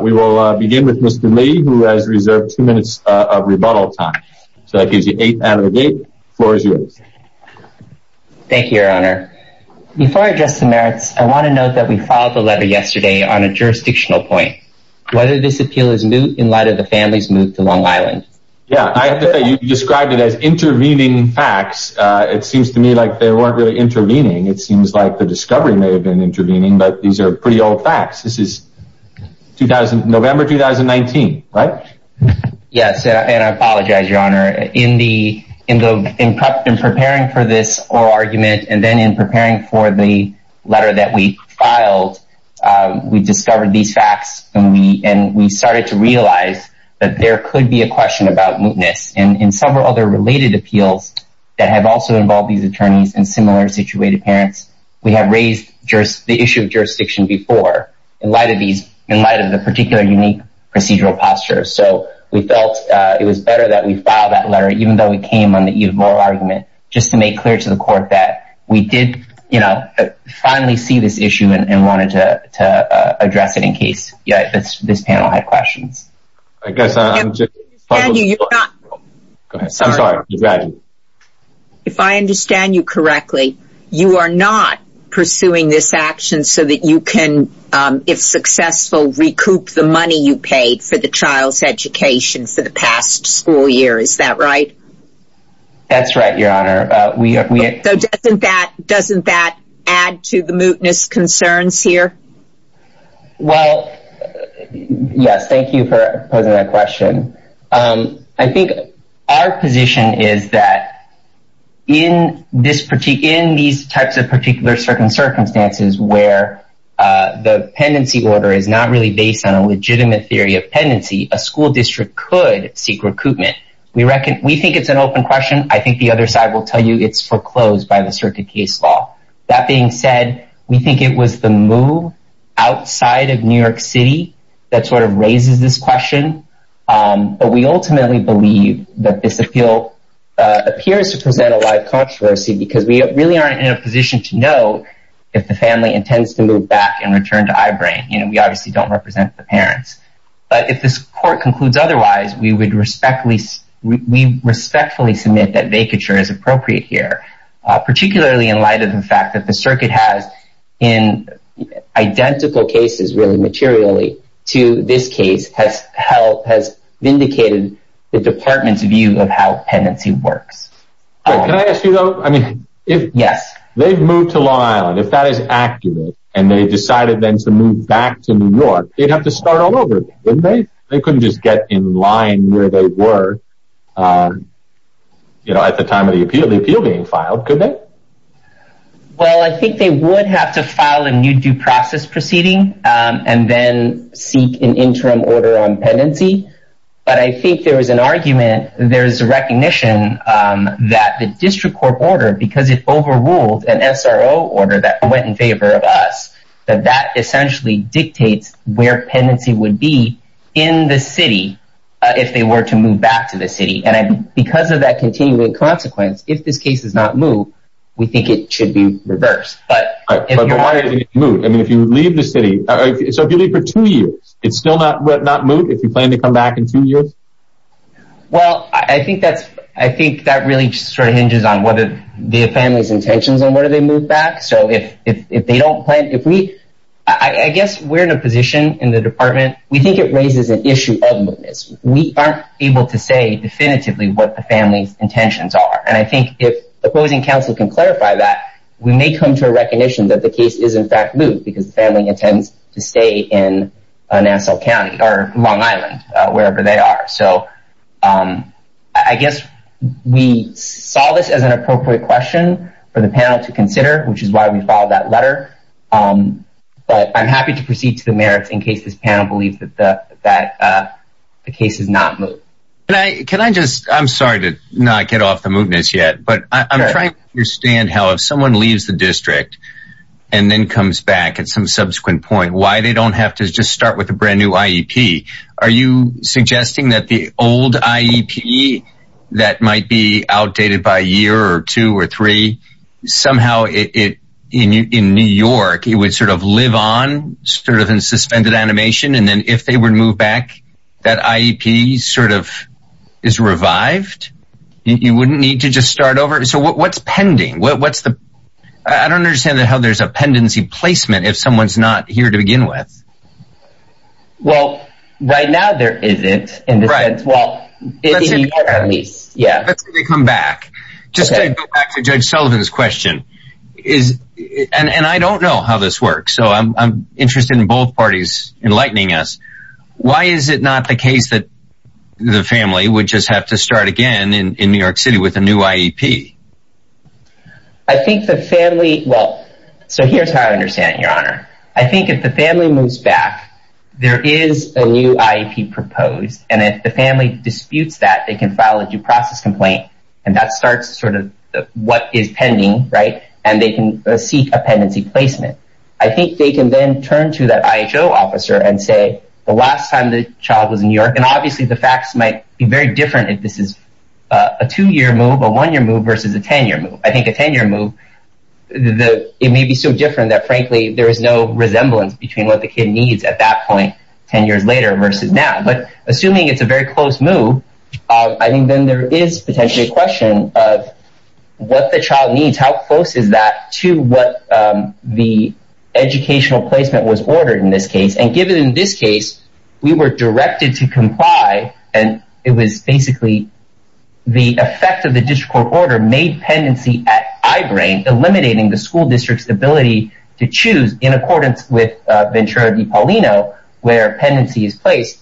We will begin with Mr. Lee, who has reserved two minutes of rebuttal time. So that gives you eight out of the gate. Floor is yours. Thank you, Your Honor. Before I address the merits, I want to note that we filed the letter yesterday on a jurisdictional point. Whether this appeal is new in light of the family's move to Long Island. Yeah, I have to say, you described it as intervening facts. It seems to me like they weren't really intervening. It seems like the discovery may have been intervening, but these are pretty old facts. This is 2000 November 2019, right? Yes, and I apologize, Your Honor, in the in the in prep and preparing for this argument, and then in preparing for the letter that we filed, we discovered these facts, and we and we started to realize that there could be a question about mootness and in several other related appeals that have also involved these attorneys and similar situated parents. We have raised the issue of jurisdiction before in light of these, in light of the particular unique procedural posture. So we felt it was better that we filed that letter, even though we came on the eve of moral argument, just to make clear to the court that we did, you know, finally see this issue and wanted to address it in case this panel had questions. I'm sorry, if I understand you correctly, you are not pursuing this action so that you can, if successful, recoup the money you paid for the child's education for the past school year. Is that right? That's right, Your Honor. We have we doesn't that add to the mootness concerns here? Well, yes, thank you for posing that question. I think our position is that in this particular in these types of particular circumstances where the pendency order is not really based on a legitimate theory of pendency, a school district could seek recoupment. We reckon it's an open question. I think the other side will tell you it's foreclosed by the circuit case law. That being said, we think it was the move outside of New York City that sort of raises this question. But we ultimately believe that this appeal appears to present a live controversy because we really aren't in a position to know if the family intends to move back and return to Ibram. You know, we obviously don't represent the parents. But if this court concludes otherwise, we would respectfully we respectfully submit that vacature is appropriate here, particularly in light of the fact that the circuit has in identical cases really materially to this case has help has vindicated the department's view of how pendency works. Can I ask you, though? I mean, if yes, they've moved to Long Island, if that is accurate, and they decided then to move back to New York, they'd have to start all over, wouldn't they? They couldn't just get in line where they were. You know, at the time of the appeal, the appeal being filed, could they? Well, I think they would have to file a new due process proceeding and then seek an interim order on pendency. But I think there was an argument, there's a recognition that the district court order because it overruled an SRO order that went in favor of us, that that essentially dictates where pendency would be in the city, if they were to move back to the city. And because of that continuing consequence, if this case does not move, we think it should be reversed. But I mean, if you leave the city, it's only for two years, it's still not not moved if you plan to come back in two years. Well, I think that's, I think that really sort of hinges on whether the family's if we, I guess we're in a position in the department, we think it raises an issue of mootness. We aren't able to say definitively what the family's intentions are. And I think if opposing counsel can clarify that, we may come to a recognition that the case is in fact moved because the family intends to stay in Nassau County or Long Island, wherever they are. So I guess we saw this as an appropriate question for the panel to consider, which is why we followed that letter. But I'm happy to proceed to the merits in case this panel believes that the case is not moved. Can I just I'm sorry to not get off the mootness yet. But I'm trying to understand how if someone leaves the district, and then comes back at some subsequent point, why they don't have to just start with a brand new IEP. Are you suggesting that the old IEP that might be outdated by a year or two or three, somehow it in New York, it would sort of live on sort of in suspended animation. And then if they were to move back, that IEP sort of is revived, you wouldn't need to just start over. So what's pending? What's the I don't understand that how there's a pendency placement if someone's not here to begin with. Well, right now there isn't in right. Well, at least Yeah, let's come back. Just back to Judge Sullivan's question is, and I don't know how this works. So I'm interested in both parties enlightening us. Why is it not the case that the family would just have to start again in New York City with a new IEP? I think the family Well, so here's how I understand your honor. I think if the family moves back, there is a new IEP proposed. And if the family disputes that they can file a due process complaint. And that starts sort of what is pending, right? And they can seek a pendency placement, I think they can then turn to that IHO officer and say, the last time the child was in New York, and obviously the facts might be very different if this is a two year move, a one year move versus a 10 year move, I think a 10 year move, the it may be so different that frankly, there is no resemblance between what the kid needs at that point, 10 years later versus now, but assuming it's a very close move, I think then there is potentially a question of what the child needs, how close is that to what the educational placement was ordered in this case. And given in this case, we were directed to comply. And it was basically the effect of the district court order made pendency at eyebrain eliminating the school district's ability to choose in accordance with Ventura de Paulino, where pendency is placed,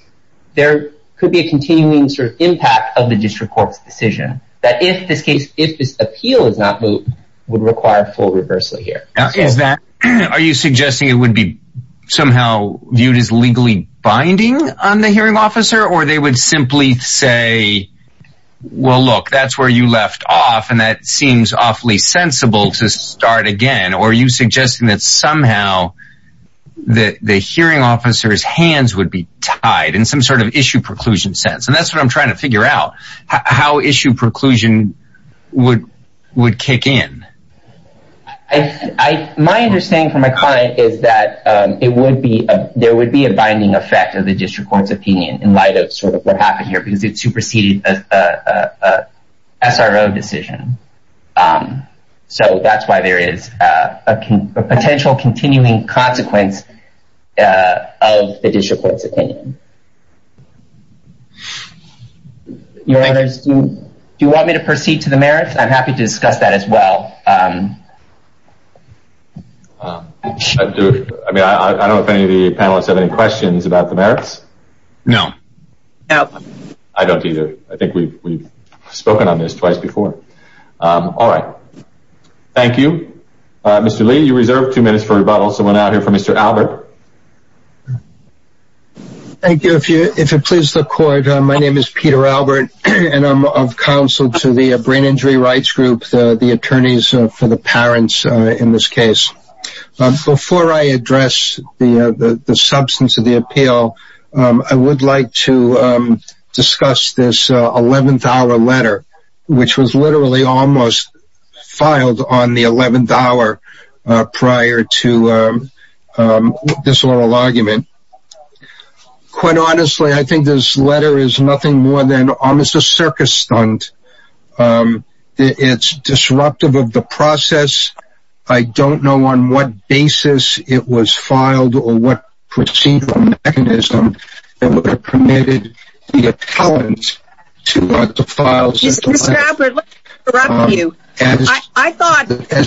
there could be a continuing sort of impact of the district court's decision that if this case if this appeal is not moved, would require full reversal here. Is that are you suggesting it would be somehow viewed as legally binding on the hearing officer or they would simply say, Well, look, that's where you left off. And that seems awfully sensible to start again. Or are you suggesting that somehow that the hearing officers hands would be tied in some sort of issue preclusion sense. And that's what I'm trying to figure out how issue preclusion would would kick in. I, my understanding from my client is that it would be there would be a binding effect of the district court's opinion in light of sort of what happened here, because it superseded a SRO decision. So that's why there is a potential continuing consequence of the district court's opinion. Do you want me to proceed to the merits? I'm happy to discuss that as well. Um, I mean, I don't know if any of the panelists have any questions about the merits. No. I don't either. I think we've spoken on this twice before. All right. Thank you. Mr. Lee, you reserve two minutes for rebuttal. So we're now here for Mr. Albert. Thank you. If you if it pleases the court. My name is Peter Albert. And I'm of counsel to the for the parents in this case. But before I address the substance of the appeal, I would like to discuss this $11 letter, which was literally almost filed on the $11 prior to this oral argument. Quite honestly, I think this letter is nothing more than almost a circus stunt. Um, it's disruptive of the process. I don't know on what basis it was filed or what procedural mechanism that would have permitted the accountants to the files. I thought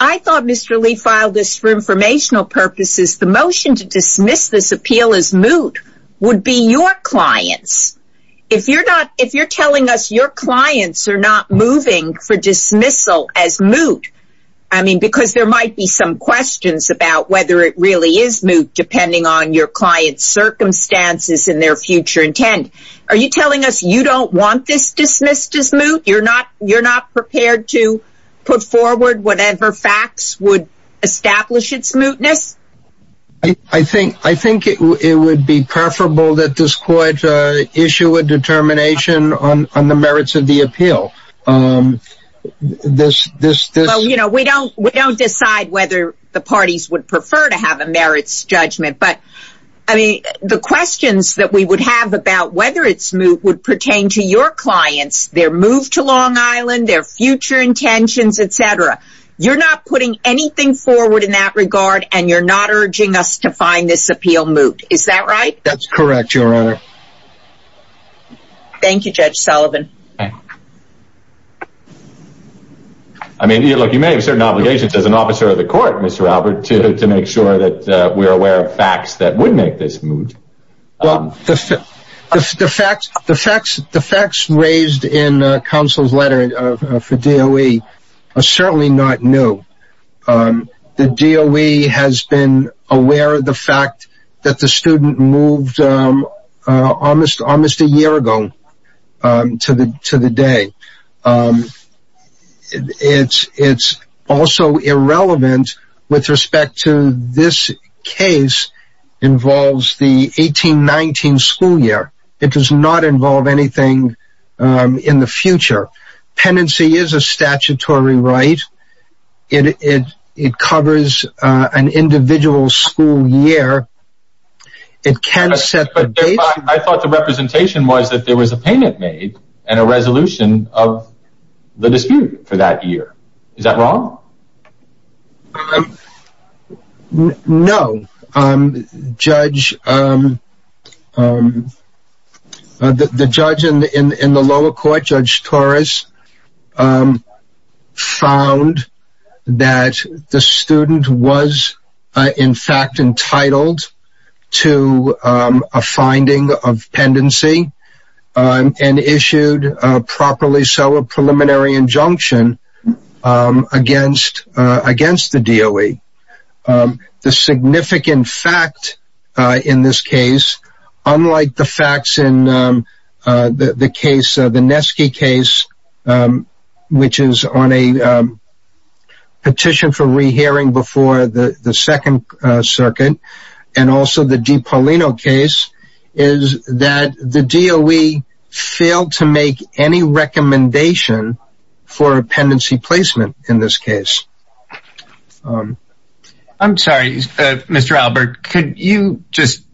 I thought Mr. Lee filed this for informational purposes, the motion to dismiss this appeal as moot would be your clients. If you're not if you're telling us your clients are not moving for dismissal as moot. I mean, because there might be some questions about whether it really is moot depending on your client's circumstances in their future intent. Are you telling us you don't want this dismissed as moot? You're not you're not prepared to put forward whatever facts would establish its mootness? I think I think it would be preferable that this court issue a determination on the merits of the appeal. This this this, you know, we don't we don't decide whether the parties would prefer to have a merits judgment. But I mean, the questions that we would have about whether its moot would pertain to your clients, their move to Long Island, their future intentions, etc. You're not putting anything forward in that regard. And you're not urging us to find this appeal moot. Is that right? That's correct, Your Honor. Thank you, Judge Sullivan. I mean, look, you may have certain obligations as an officer of the court, Mr. Albert to make sure that we are aware of facts that would make this moot. Well, the facts raised in counsel's letter for DOE are certainly not new. The DOE has been aware of the fact that the student moved almost almost a year ago to the to the day. And it's it's also irrelevant with respect to this case involves the 1819 school year. It does not involve anything in the future. Penancy is a statutory right. It it it covers an individual school year. It can set but I thought the representation was that there was a payment made and a resolution of the dispute for that year. Is that wrong? No, Judge. The judge in the lower court, Judge Torres, found that the student was in fact entitled to a finding of pendency and issued properly. So a preliminary injunction against against the DOE. The significant fact in this case, unlike the facts in the case, the Nesky case, which is on a petition for rehearing before the second circuit, and also the de Paulino case, is that the DOE failed to make any recommendation for a pendency placement in this case. I'm sorry, Mr. Albert, could you just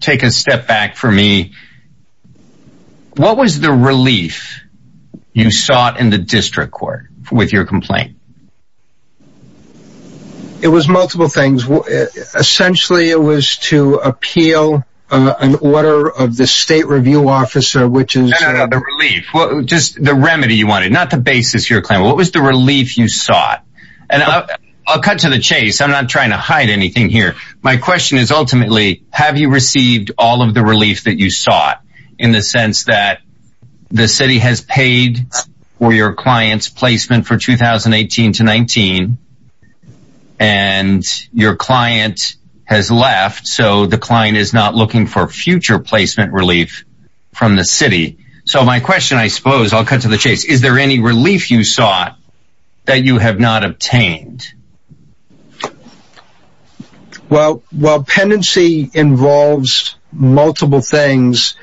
take a step back for me? What was the relief you sought in the district court with your complaint? It was multiple things. Essentially, it was to appeal an order of the state review officer, which is the relief, just the remedy you wanted, not the basis your claim. What was the relief you sought? And I'll cut to the chase. I'm not trying to hide anything here. My question is, ultimately, have you received all of the relief that you sought, in the sense that the city has paid for your client's placement for 2018 to 19, and your client has left, so the client is not looking for future placement relief from the city? So my question, I suppose, I'll cut to the chase, is there any relief you sought that you have not obtained? Well, while pendency involves multiple things,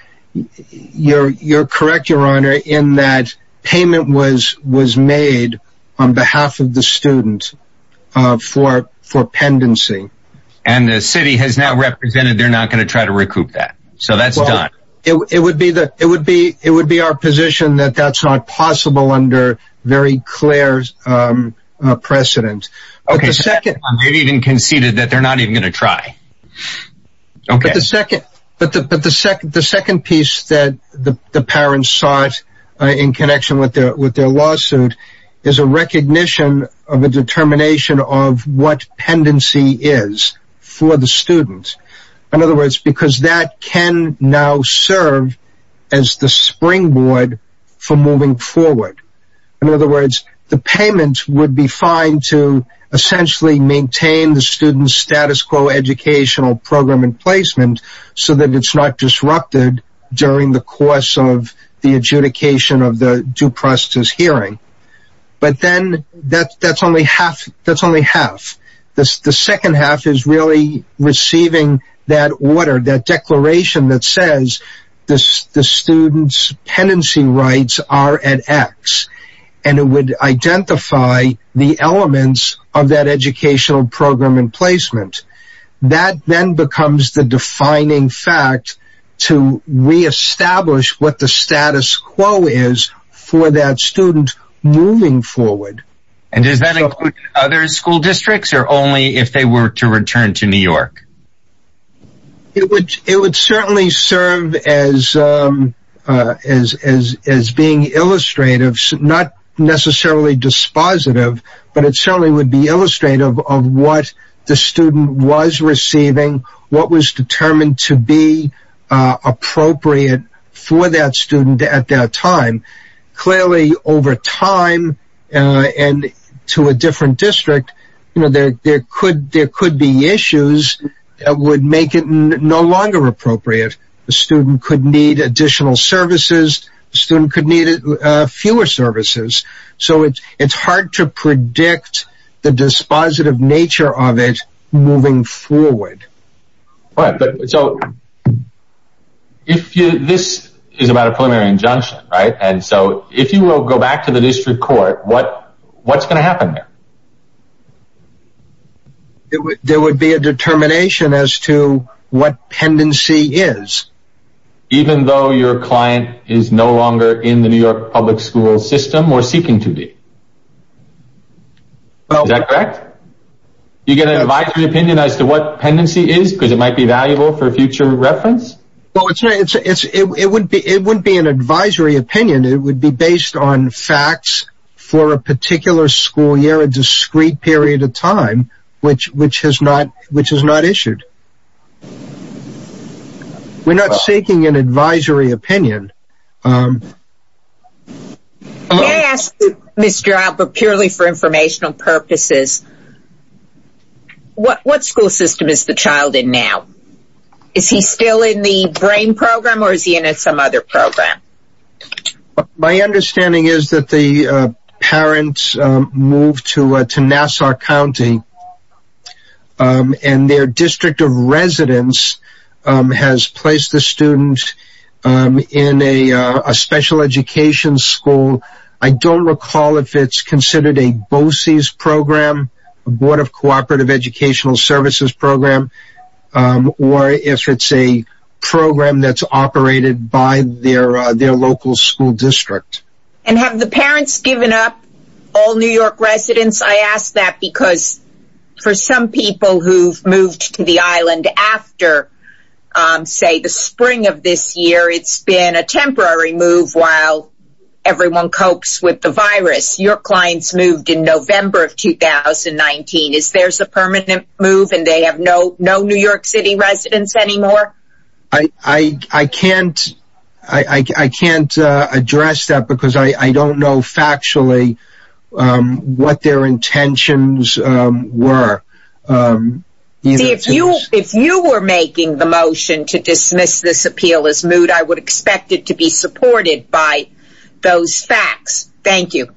you're correct, Your Honor, in that payment was made on behalf of the student for pendency. And the city has now represented they're not going to try to recoup that. So that's done. It would be our position that that's not possible under very clear precedent. Okay, second, they've even conceded that they're not even going to try. Okay, the second, but the but the second, the second piece that the parents sought in connection with their with their lawsuit, is a recognition of a determination of what pendency is for the In other words, the payment would be fine to essentially maintain the student's status quo educational program and placement, so that it's not disrupted during the course of the adjudication of the due process hearing. But then that's only half, that's only half. The second half is really that order, that declaration that says this, the student's pendency rights are at x, and it would identify the elements of that educational program and placement. That then becomes the defining fact to reestablish what the status quo is for that student moving forward. And does that include other school districts are only if they were to return to York? It would, it would certainly serve as, as, as, as being illustrative, not necessarily dispositive, but it certainly would be illustrative of what the student was receiving, what was determined to be appropriate for that student at that time. Clearly, over time, and to a different district, you know, there could there could be issues that would make it no longer appropriate. The student could need additional services, student could need fewer services. So it's, it's hard to predict the dispositive nature of it moving forward. Right, but so if this is about a preliminary injunction, right, and so if you will go back to the district court, what, what's going to happen there? There would be a determination as to what pendency is, even though your client is no longer in the New York public school system or seeking to be. Well, is that correct? You get an advisory opinion as to what pendency is, because it might be valuable for future reference? Well, it's, it's, it would be it wouldn't be an advisory opinion, it would be based on facts for a particular school year, a discrete period of time, which, which has not, which has not issued. We're not seeking an advisory opinion. May I ask, Ms. Gerard, but purely for informational purposes, what school system is the child in now? Is he still in the BRAIN program or is he in some other program? My understanding is that the parents moved to, to Nassau County, and their district of residence has placed the student in a special education school. I don't recall if it's considered a BOCES program, a Board of Cooperative Educational Services program, or if it's a program that's operated by their, their local school district. And have the parents given up all New York residents? I ask that because for some people who've moved to the island after, say, the spring of this year, it's been a temporary move while everyone copes with the virus. Your clients moved in November of 2019. Is there's a no New York City residents anymore? I can't, I can't address that because I don't know factually what their intentions were. See, if you, if you were making the motion to dismiss this appeal as moot, I would expect it to be supported by those facts. Thank you.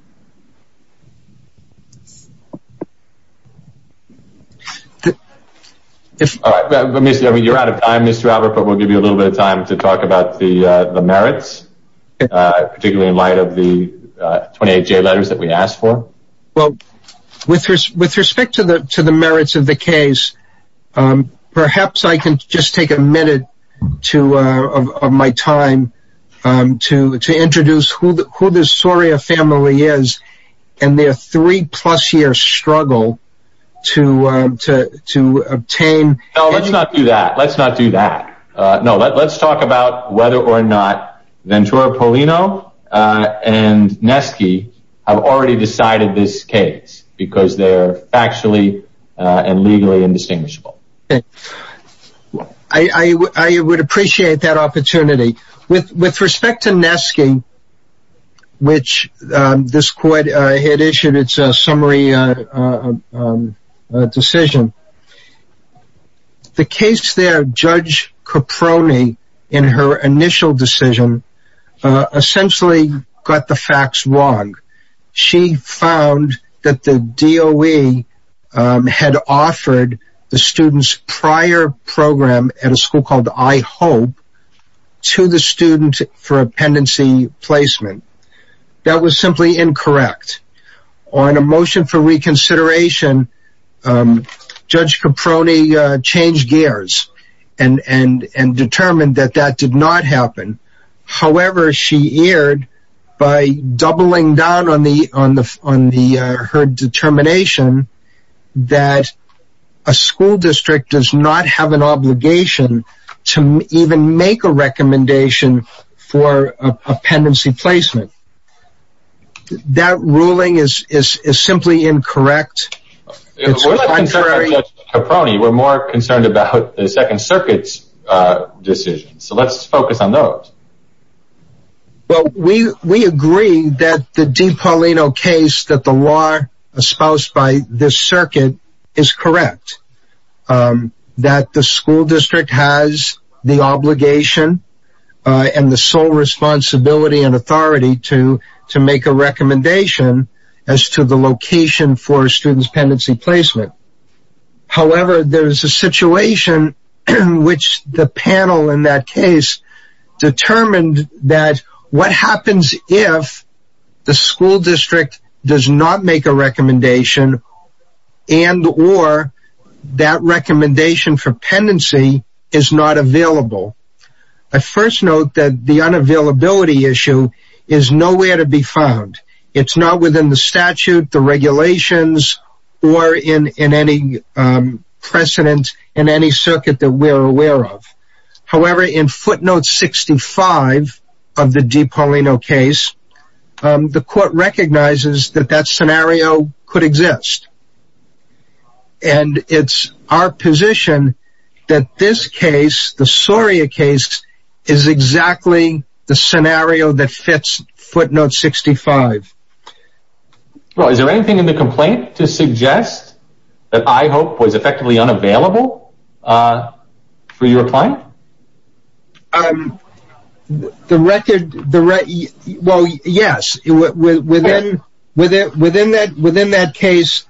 If you're out of time, Mr. Albert, but we'll give you a little bit of time to talk about the, the merits, particularly in light of the 28 J letters that we asked for. Well, with, with respect to the, to the merits of the case, perhaps I can just take a minute to, of my time to, to introduce who the, who the Soria family is, and their three plus year struggle to, to, to obtain. No, let's not do that. Let's not do that. No, let's talk about whether or not Ventura Paulino and Nesky have already decided this case because they're factually and legally indistinguishable. I, I, I would appreciate that opportunity with, with respect to Nesky, which this court had issued, it's a summary decision. The case there, judge Caproni in her initial decision, essentially got the facts wrong. She found that the DOE had offered the students prior program at a school called I hope to the student for appendency placement. That was simply incorrect on a motion for reconsideration. Judge Caproni changed gears and, and, and determined that that did not happen. However, she erred by doubling down on the, on the, on the, her determination that a school make a recommendation for appendency placement. That ruling is, is, is simply incorrect. We're more concerned about the second circuits decision. So let's focus on those. Well, we, we agree that the deep Paulino case that the law espoused by this circuit is correct. Um, that the school district has the obligation and the sole responsibility and authority to, to make a recommendation as to the location for students pendency placement. However, there is a situation in which the panel in that case determined that what happens if the school district does not make a recommendation and, or that recommendation for pendency is not available. I first note that the unavailability issue is nowhere to be found. It's not within the statute, the regulations, or in, in any, um, precedent in any circuit that we're aware of. However, in footnote 65 of the deep Paulino case, um, the court recognizes that that scenario could exist. And it's our position that this case, the Soria case is exactly the scenario that fits footnote 65. Well, is there anything in the complaint to suggest that I hope was effectively unavailable, uh, for your client? Um, the record, the re well, yes, within, within, within that, within that case,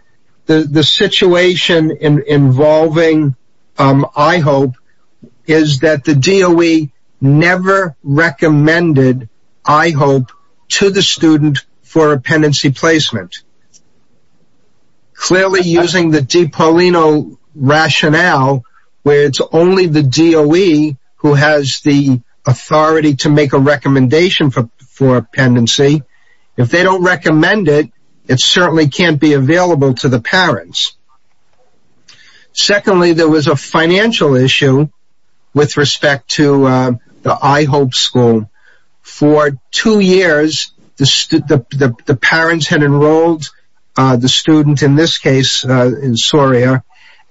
the, the situation involving, um, I hope is that the DOE never recommended I hope to the student for a pendency placement, clearly using the deep Paulino rationale, where it's only the DOE who has the authority to make a recommendation for, for pendency. If they don't recommend it, it certainly can't be available to the parents. Secondly, there was a financial issue with respect to, um, the, I hope school for two years, the, the, the, the parents had enrolled, uh, the student in this case, uh, in Soria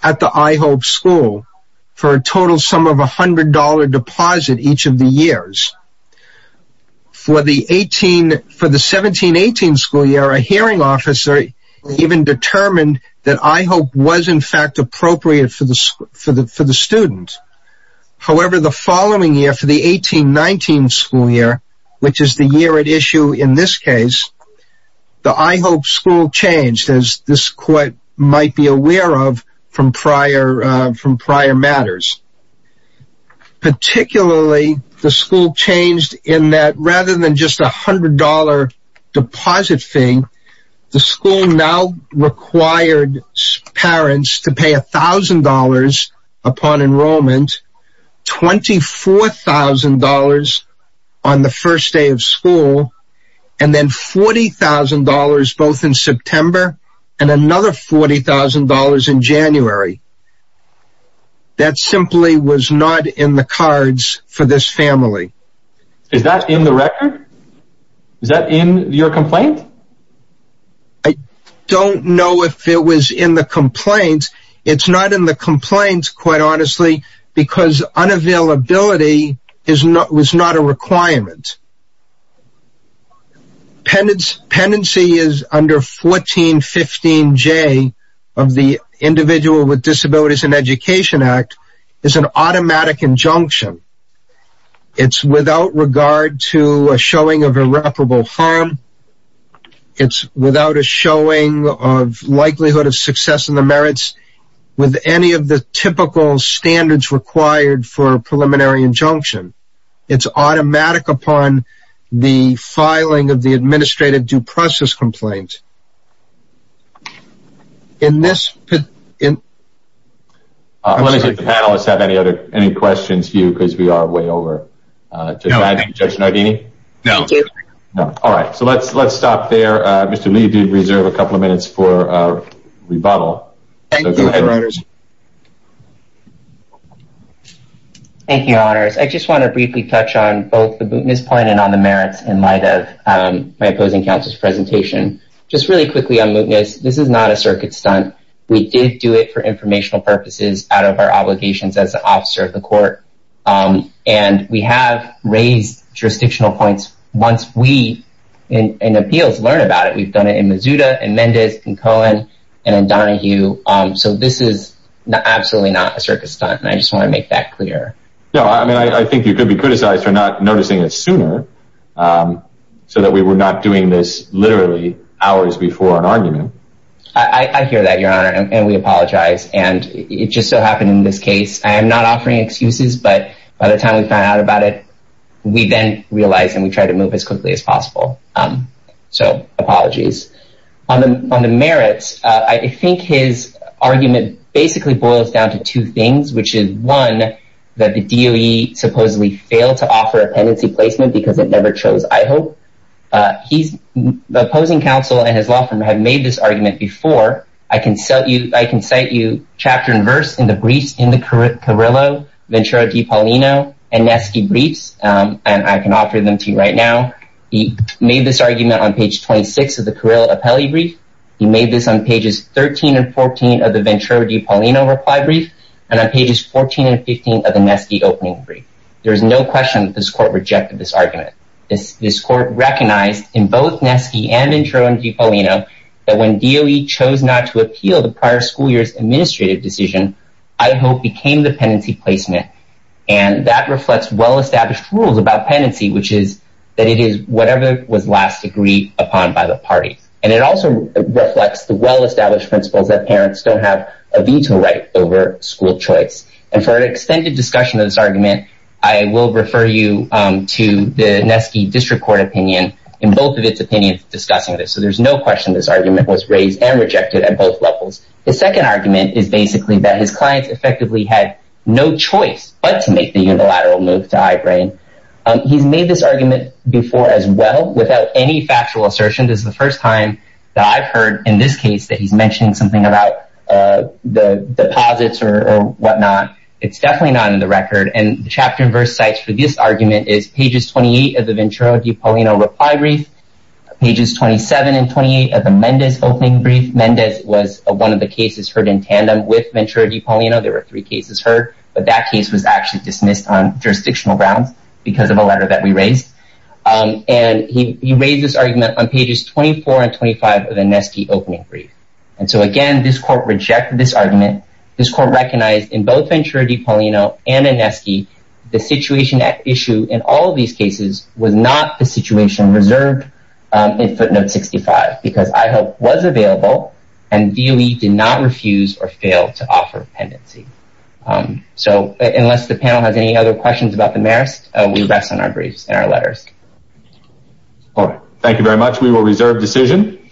at the, I hope school for a total sum of a hundred dollar deposit each of the years for the 18, for the 17, 18 school year, a hearing officer even determined that I hope was in fact appropriate for the, for the, for the student. However, the following year for the 18, 19 school year, which is the year at issue in this case, the, I hope school changed as this court might be aware of from prior, uh, from prior matters, particularly the school changed in that rather than just a hundred dollar deposit thing, the school now required parents to pay a thousand dollars upon enrollment, $24,000 on the first day of school, and then $40,000 both in September and another $40,000 in January. That simply was not in the cards for this family. Is that in the record? Is that in your complaint? I don't know if it was in the complaint. It's not in the complaints quite honestly, because unavailability is not, was not a requirement. Penance, penancy is under 1415 J of the individual with disabilities and education act is an automatic injunction. It's without regard to a showing of irreparable harm. It's without a showing of likelihood of success in the merits with any of the typical standards required for a preliminary injunction. It's automatic upon the filing of the administrative due process complaint in this. Let me see if the panelists have any other, any questions for you, because we are way over. Judge Nardini? No. All right. So let's, let's stop there. Mr. Lee did reserve a couple of minutes for rebuttal. Thank you. Thank you, your honors. I just want to briefly touch on both the mootness point and on the merits in light of my opposing counsel's presentation. Just really quickly on mootness, this is not a circuit stunt. We did do it for informational purposes out of our obligations as an officer of the court. And we have raised jurisdictional points. Once we, in appeals, learn about it, we've done it in Mazuda and Mendes and Cohen and Donahue. So this is absolutely not a circus stunt. And I just want to make that clear. No, I mean, I think you could be criticized for not noticing it sooner so that we were not doing this literally hours before an argument. I hear that, your honor, and we apologize. And it just so happened in this case, I am not offering excuses. But by the time we found out about it, we then realized and we tried to move as quickly as possible. So apologies. On the merits, I think his argument basically boils down to two things, which is one, that the DOE supposedly failed to offer a pendency placement because it never chose a pendency. The opposing counsel and his law firm have made this argument before. I can cite you chapter and verse in the briefs in the Carrillo, Ventura di Paulino, and Neske briefs. And I can offer them to you right now. He made this argument on page 26 of the Carrillo appellee brief. He made this on pages 13 and 14 of the Ventura di Paulino reply brief and on pages 14 and 15 of the Neske opening brief. There is no question that this court rejected this argument. This court recognized in both Neske and Ventura di Paulino that when DOE chose not to appeal the prior school year's administrative decision, I hope became the pendency placement. And that reflects well-established rules about pendency, which is that it is whatever was last agreed upon by the party. And it also reflects the well-established principles that parents don't have a veto right over school choice. And for an extended discussion of this argument, I will refer you to the Neske district court opinion in both of its opinions discussing this. So there's no question this argument was raised and rejected at both levels. The second argument is basically that his clients effectively had no choice but to make the unilateral move to iBrain. He's made this argument before as well without any factual assertion. This is the first time that I've heard in this case that he's it's definitely not in the record. And the chapter and verse sites for this argument is pages 28 of the Ventura di Paulino reply brief, pages 27 and 28 of the Mendez opening brief. Mendez was one of the cases heard in tandem with Ventura di Paulino. There were three cases heard, but that case was actually dismissed on jurisdictional grounds because of a letter that we raised. And he raised this argument on pages 24 and 25 of the Neske opening brief. And so again, this court rejected this argument. This court recognized in both Ventura di Paulino and Neske, the situation at issue in all of these cases was not the situation reserved in footnote 65 because I hope was available and DOE did not refuse or fail to offer pendency. So unless the panel has any other questions about the merits, we rest on our briefs and our letters. All right. Thank you very much. We will reserve decision.